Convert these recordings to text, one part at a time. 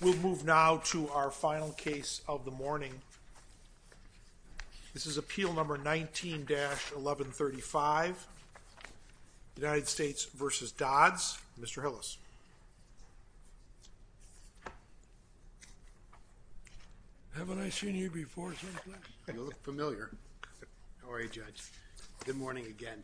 We'll move now to our final case of the morning. This is Appeal No. 19-1135, United States v. Dodds. Mr. Hillis. Haven't I seen you before someplace? You look familiar. How are you, Judge? Good morning again.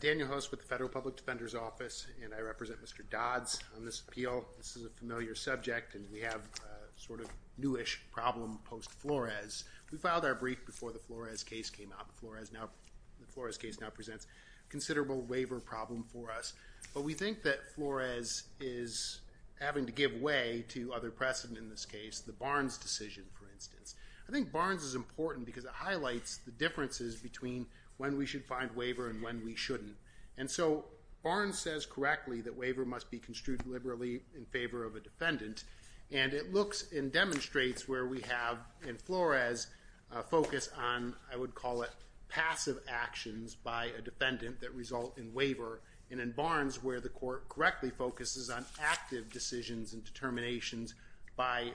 Daniel Host with the Federal Public Defender's Office, and I represent Mr. Dodds on this appeal. This is a familiar subject, and we have a sort of newish problem post-Flores. We filed our brief before the Flores case came out. The Flores case now presents a considerable waiver problem for us, but we think that Flores is having to give way to other precedent in this case, the Barnes decision, for instance. I think Barnes is important because it highlights the differences between when we should find waiver and when we shouldn't. And so Barnes says correctly that waiver must be construed liberally in favor of a defendant, and it looks and demonstrates where we have in Flores a focus on, I would call it, passive actions by a defendant that result in waiver, and in Barnes, where the court correctly focuses on active decisions and determinations by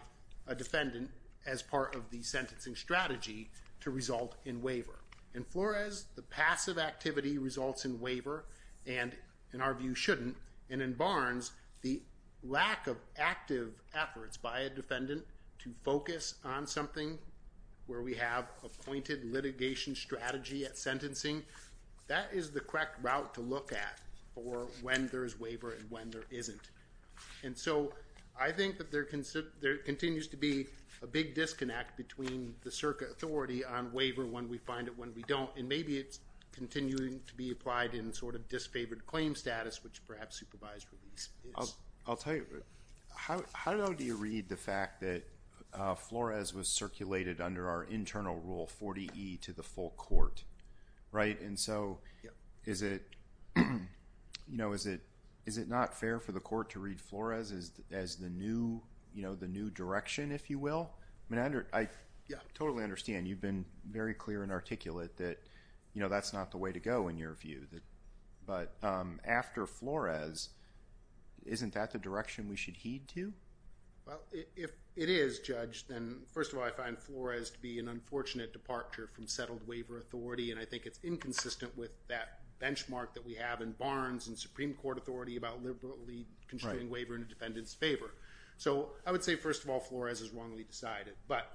a defendant as part of the sentencing strategy to result in waiver. In Flores, the passive activity results in waiver and, in our view, shouldn't, and in Barnes, the lack of active efforts by a defendant to focus on something where we have a pointed litigation strategy at sentencing, that is the correct route to look at for when there is waiver and when there isn't. And so I think that there continues to be a big disconnect between the Circa authority on waiver when we find it, when we don't, and maybe it's continuing to be applied in sort of disfavored claim status, which perhaps supervised release is. I'll tell you, how long do you read the fact that Flores was circulated under our internal rule 40E to the full court, right? And so is it not fair for the court to read Flores as the new direction, if you will? I totally understand. You've been very clear and articulate that that's not the way to go, in your view. But after Flores, isn't that the direction we should heed to? Well, if it is, Judge, then first of all, I find Flores to be an unfortunate departure from settled waiver authority, and I think it's inconsistent with that benchmark that we have in Barnes and Supreme Court authority about liberally constraining waiver in a defendant's favor. So I would say, first of all, Flores is wrongly decided. But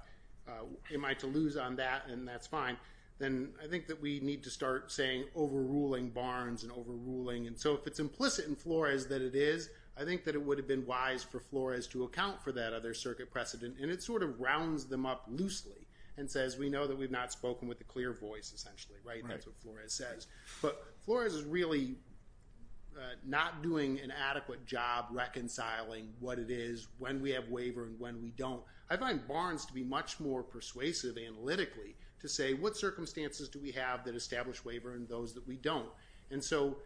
am I to lose on that? And that's fine. Then I think that we need to start saying overruling Barnes and overruling. And so if it's implicit in Flores that it is, I think that it would have been wise for Flores to account for that other circuit precedent. And it sort of rounds them up loosely and says we know that we've not spoken with a clear voice, essentially, right? That's what Flores says. But Flores is really not doing an adequate job reconciling what it is, when we have waiver and when we don't. I find Barnes to be much more persuasive, analytically, to say what circumstances do we have that establish waiver and those that we don't? And so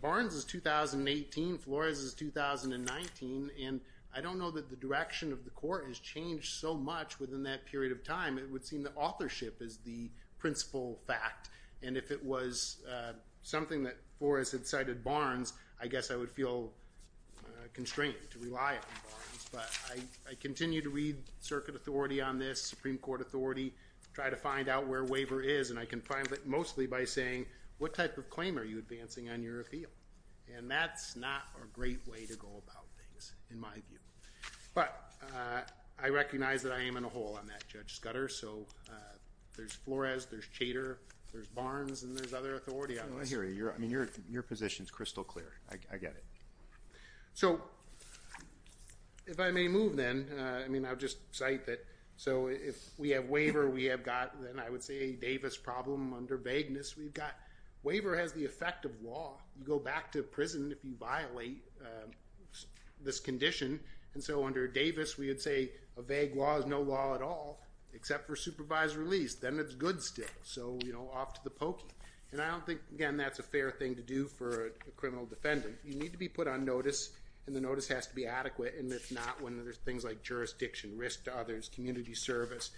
Barnes is 2018, Flores is 2019, and I don't know that the direction of the court has changed so much within that period of time. It would seem that authorship is the principal fact. And if it was something that Flores had cited Barnes, I guess I would feel constrained to rely on Barnes. But I continue to read circuit authority on this, Supreme Court authority, try to find out where waiver is, and I can find it mostly by saying, what type of claim are you advancing on your appeal? And that's not a great way to go about things, in my view. But I recognize that I am in a hole on that, Judge Scudder. So there's Flores, there's Chater, there's Barnes, and there's other authority on this. I hear you. I mean, your position is crystal clear. I get it. So if I may move then, I mean, I'll just cite that. So if we have waiver, we have got, then I would say, a Davis problem. Under vagueness, we've got waiver has the effect of law. You go back to prison if you violate this condition. And so under Davis, we would say a vague law is no law at all, except for supervised release. Then it's good still. So off to the pokey. And I don't think, again, that's a fair thing to do for a criminal defendant. You need to be put on notice, and the notice has to be adequate, and if not, when there's things like jurisdiction, risk to others, community service,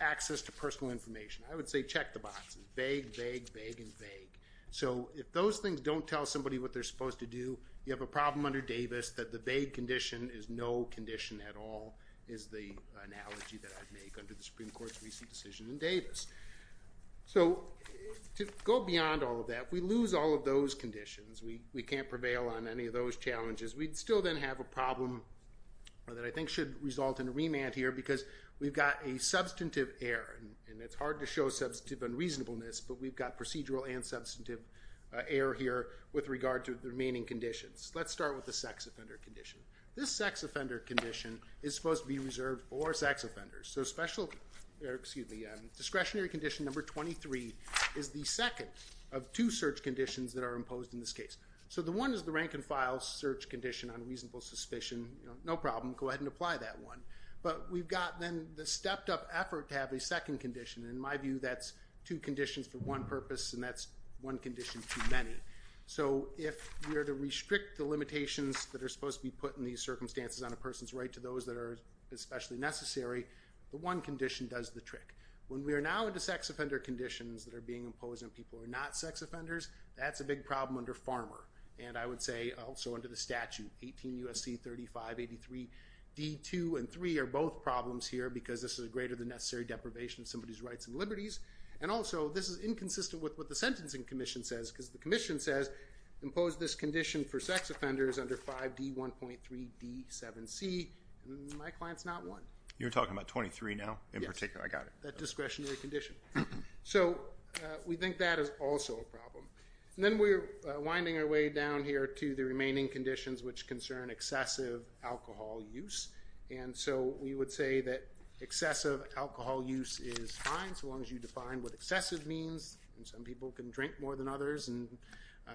access to personal information. I would say check the boxes. Vague, vague, vague, and vague. So if those things don't tell somebody what they're supposed to do, you have a problem under Davis that the vague condition is no law. That's the analogy that I'd make under the Supreme Court's recent decision in Davis. So to go beyond all of that, we lose all of those conditions. We can't prevail on any of those challenges. We'd still then have a problem that I think should result in a remand here, because we've got a substantive error, and it's hard to show substantive unreasonableness, but we've got procedural and substantive error here with regard to the remaining conditions. Let's start with the sex offender condition. This sex offender condition is supposed to be reserved for sex offenders. So discretionary condition number 23 is the second of two search conditions that are imposed in this case. So the one is the rank-and-file search condition on reasonable suspicion. No problem. Go ahead and apply that one. But we've got then the stepped-up effort to have a second condition. In my view, that's two conditions for one purpose, and that's one condition too many. So if we are to restrict the limitations that are especially necessary, the one condition does the trick. When we are now into sex offender conditions that are being imposed on people who are not sex offenders, that's a big problem under FARMR. And I would say also under the statute, 18 U.S.C. 3583 D.2 and 3 are both problems here, because this is a greater than necessary deprivation of somebody's rights and liberties. And also, this is inconsistent with what the Sentencing Commission says, because the Commission says impose this condition for sex offenders under 5 D.1.3 D.7c. My client's not one. You're talking about 23 now in particular? Yes. I got it. That discretionary condition. So we think that is also a problem. And then we're winding our way down here to the remaining conditions which concern excessive alcohol use. And so we would say that excessive alcohol use is fine, so long as you define what excessive means. And some people can drink more than others, and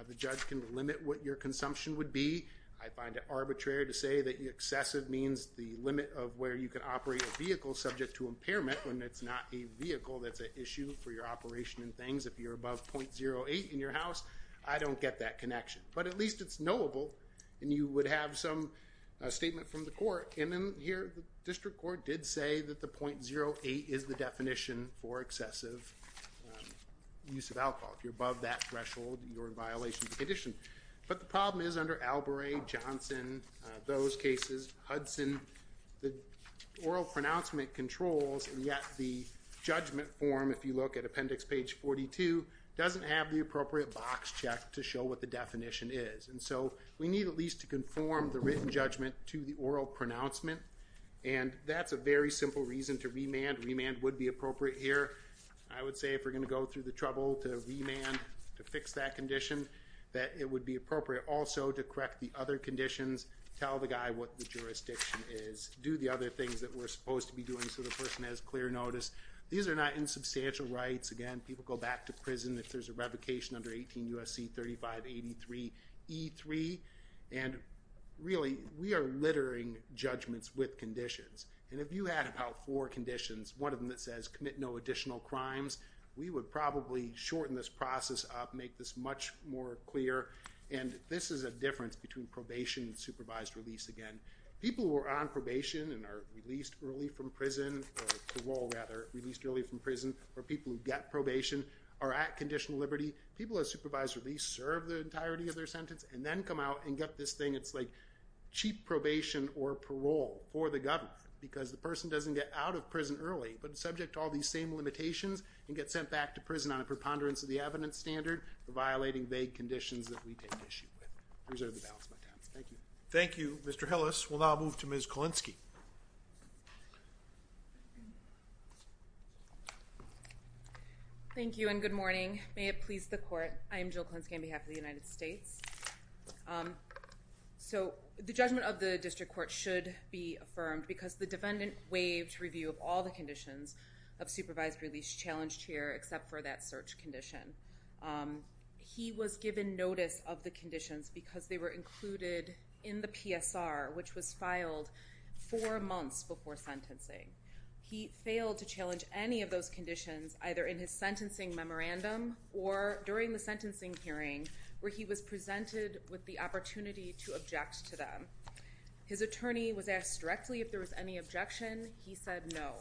the judge can limit what your consumption would be. I find it arbitrary to say that excessive means the limit of where you can operate a vehicle subject to impairment when it's not a vehicle that's an issue for your operation and things. If you're above .08 in your house, I don't get that connection. But at least it's knowable, and you would have some statement from the court. And then here, the District Court did say that the .08 is the definition for excessive use of alcohol. If you're above that threshold, you're in violation of the condition. But the problem is under Albury, Johnson, those cases, Hudson, the oral pronouncement controls, and yet the judgment form, if you look at appendix page 42, doesn't have the appropriate box check to show what the definition is. And so we need at least to conform the written judgment to the oral pronouncement, and that's a very simple reason to remand. Remand would be appropriate here. I would say if we're going to go through the trouble to remand to fix that condition, that it would be appropriate also to correct the other conditions, tell the guy what the jurisdiction is, do the other things that we're supposed to be doing so the person has clear notice. These are not insubstantial rights. Again, people go back to prison if there's a revocation under 18 U.S.C. 3583 E3, and really, we are littering judgments with conditions. And if you had about four conditions, one of them that says commit no additional crimes, we would probably shorten this process up, make this much more clear, and this is a difference between probation and supervised release again. People who are on probation and are released early from prison or parole rather, released early from prison, or people who get probation, are at conditional liberty, people who are supervised release serve the entirety of their sentence, and then come out and get this thing that's like cheap probation or parole for the governor because the person doesn't get out of prison early but is subject to all these same limitations and gets sent back to prison on a preponderance of the evidence standard for violating vague conditions that we take issue with. Thank you. Thank you, Mr. Hillis. We'll now move to Ms. Kulinski. Thank you, and good morning. May it please the court, I am Jill Kulinski on behalf of the United States. So the judgment of the district court should be affirmed because the defendant waived review of all the conditions of supervised release challenged here except for that search condition. He was given notice of the conditions because they were included in the PSR which was filed four months before sentencing. He failed to challenge any of those conditions either in his sentencing memorandum or during the sentencing hearing where he was presented with the opportunity to object to them. His attorney was asked directly if there was any objection. He said no.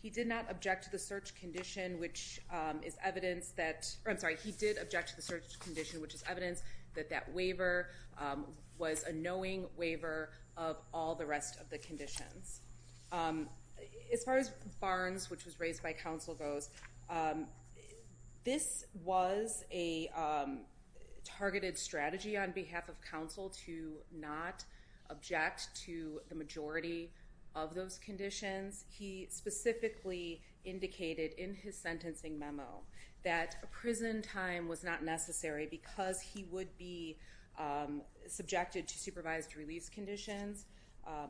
He did not object to the search condition which is evidence that, I'm sorry, he did object to the search condition which is evidence that that waiver was a knowing waiver of all the rest of the conditions. As far as Barnes which was raised by counsel goes, this was a targeted strategy on behalf of counsel to not object to the majority of those conditions. He specifically indicated in his sentencing memo that prison time was not necessary because he would be subjected to supervised release conditions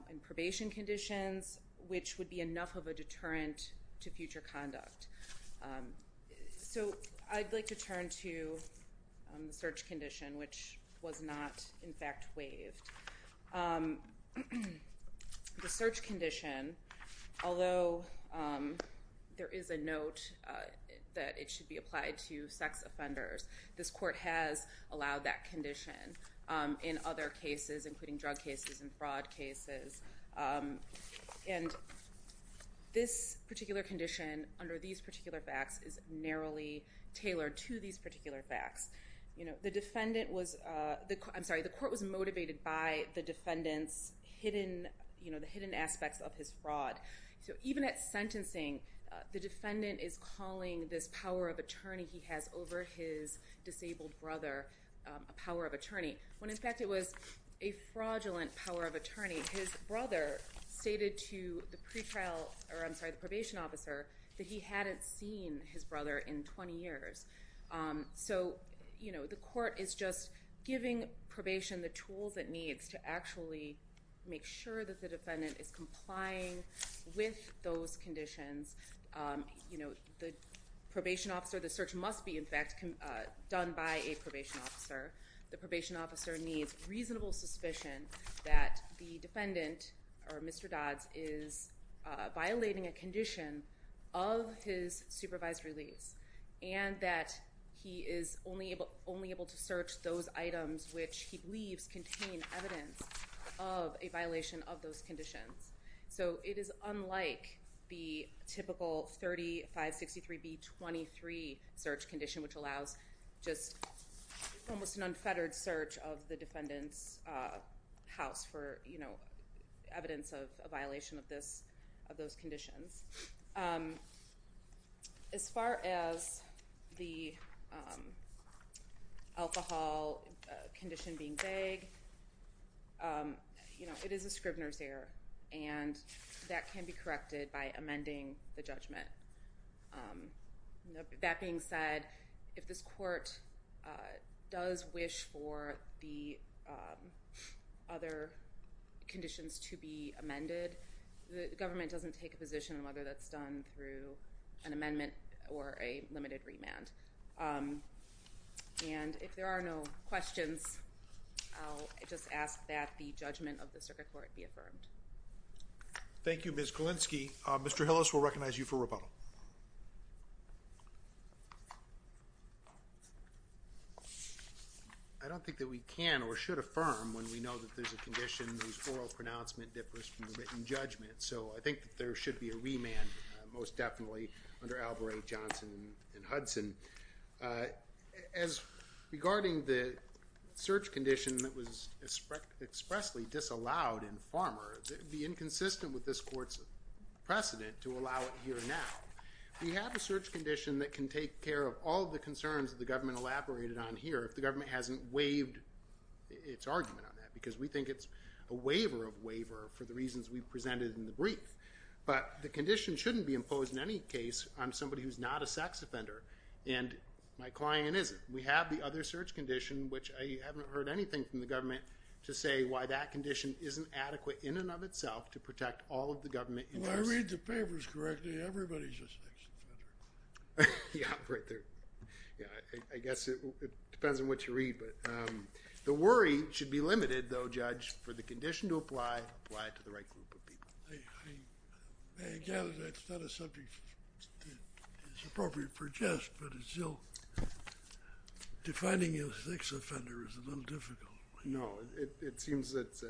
and probation conditions which would be enough of a deterrent to future conduct. So I'd like to turn to the search condition which was not in fact waived. The search condition, although there is a note that it should be applied to sex offenders, this court has allowed that condition in other cases including drug cases and fraud cases. And this particular condition under these particular facts is narrowly tailored to these particular facts. The defendant was, I'm sorry, the court was motivated by the defendant's hidden, the hidden aspects of his fraud. So even at sentencing, the defendant is calling this power of attorney he has over his disabled brother a power of attorney when in fact it was a fraudulent power of attorney. His brother stated to the pre-trial, or I'm sorry, the probation officer that he hadn't seen his brother in 20 years. So the court is just giving probation the tools it needs to actually make sure that the defendant is complying with those conditions. The probation officer, the search must be in fact done by a probation officer. The probation officer needs reasonable suspicion that the defendant, or Mr. Dodds, is violating a condition of his supervised release and that he is only able to search those items which he believes contain evidence of a violation of those conditions. So it is unlike the typical 3563B23 search condition which allows almost an unfettered search of the defendant's house for evidence of a violation of those conditions. As far as the alcohol condition being vague, it is a Scribner's error and that can be does wish for the other conditions to be amended. The government doesn't take a position on whether that's done through an amendment or a limited remand. And if there are no questions, I'll just ask that the judgment of the circuit court be affirmed. Thank you Ms. Galinsky. Mr. Hillis will recognize you for rebuttal. I don't think that we can or should affirm when we know that there's a condition whose oral pronouncement differs from the written judgment. So I think that there should be a remand most definitely under Albury, Johnson, and Hudson. As regarding the search condition that was expressly disallowed in Farmer, it would be inconsistent with this precedent to allow it here now. We have a search condition that can take care of all the concerns of the government elaborated on here if the government hasn't waived its argument on that because we think it's a waiver of waiver for the reasons we presented in the brief. But the condition shouldn't be imposed in any case on somebody who's not a sex offender and my client isn't. We have the other search condition which I haven't heard anything from the government to say that condition isn't adequate in and of itself to protect all of the government interests. I read the papers correctly. Everybody's a sex offender. Yeah I guess it depends on what you read but the worry should be limited though judge for the condition to apply apply it to the right group of people. Defining a sex offender is a little difficult. No it seems it's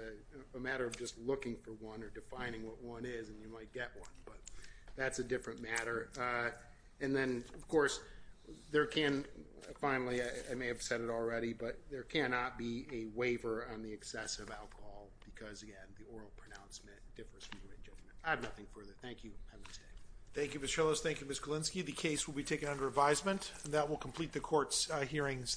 a matter of just looking for one or defining what one is and you might get one but that's a different matter. And then of course there can finally I may have said it already but there cannot be a waiver on the excessive alcohol because again the oral pronouncement differs from the written judgment. I have nothing further. Thank you. Thank you Ms. Schillos. Thank you Ms. Galinsky. The case will be taken under advisement and that will complete the court's hearings this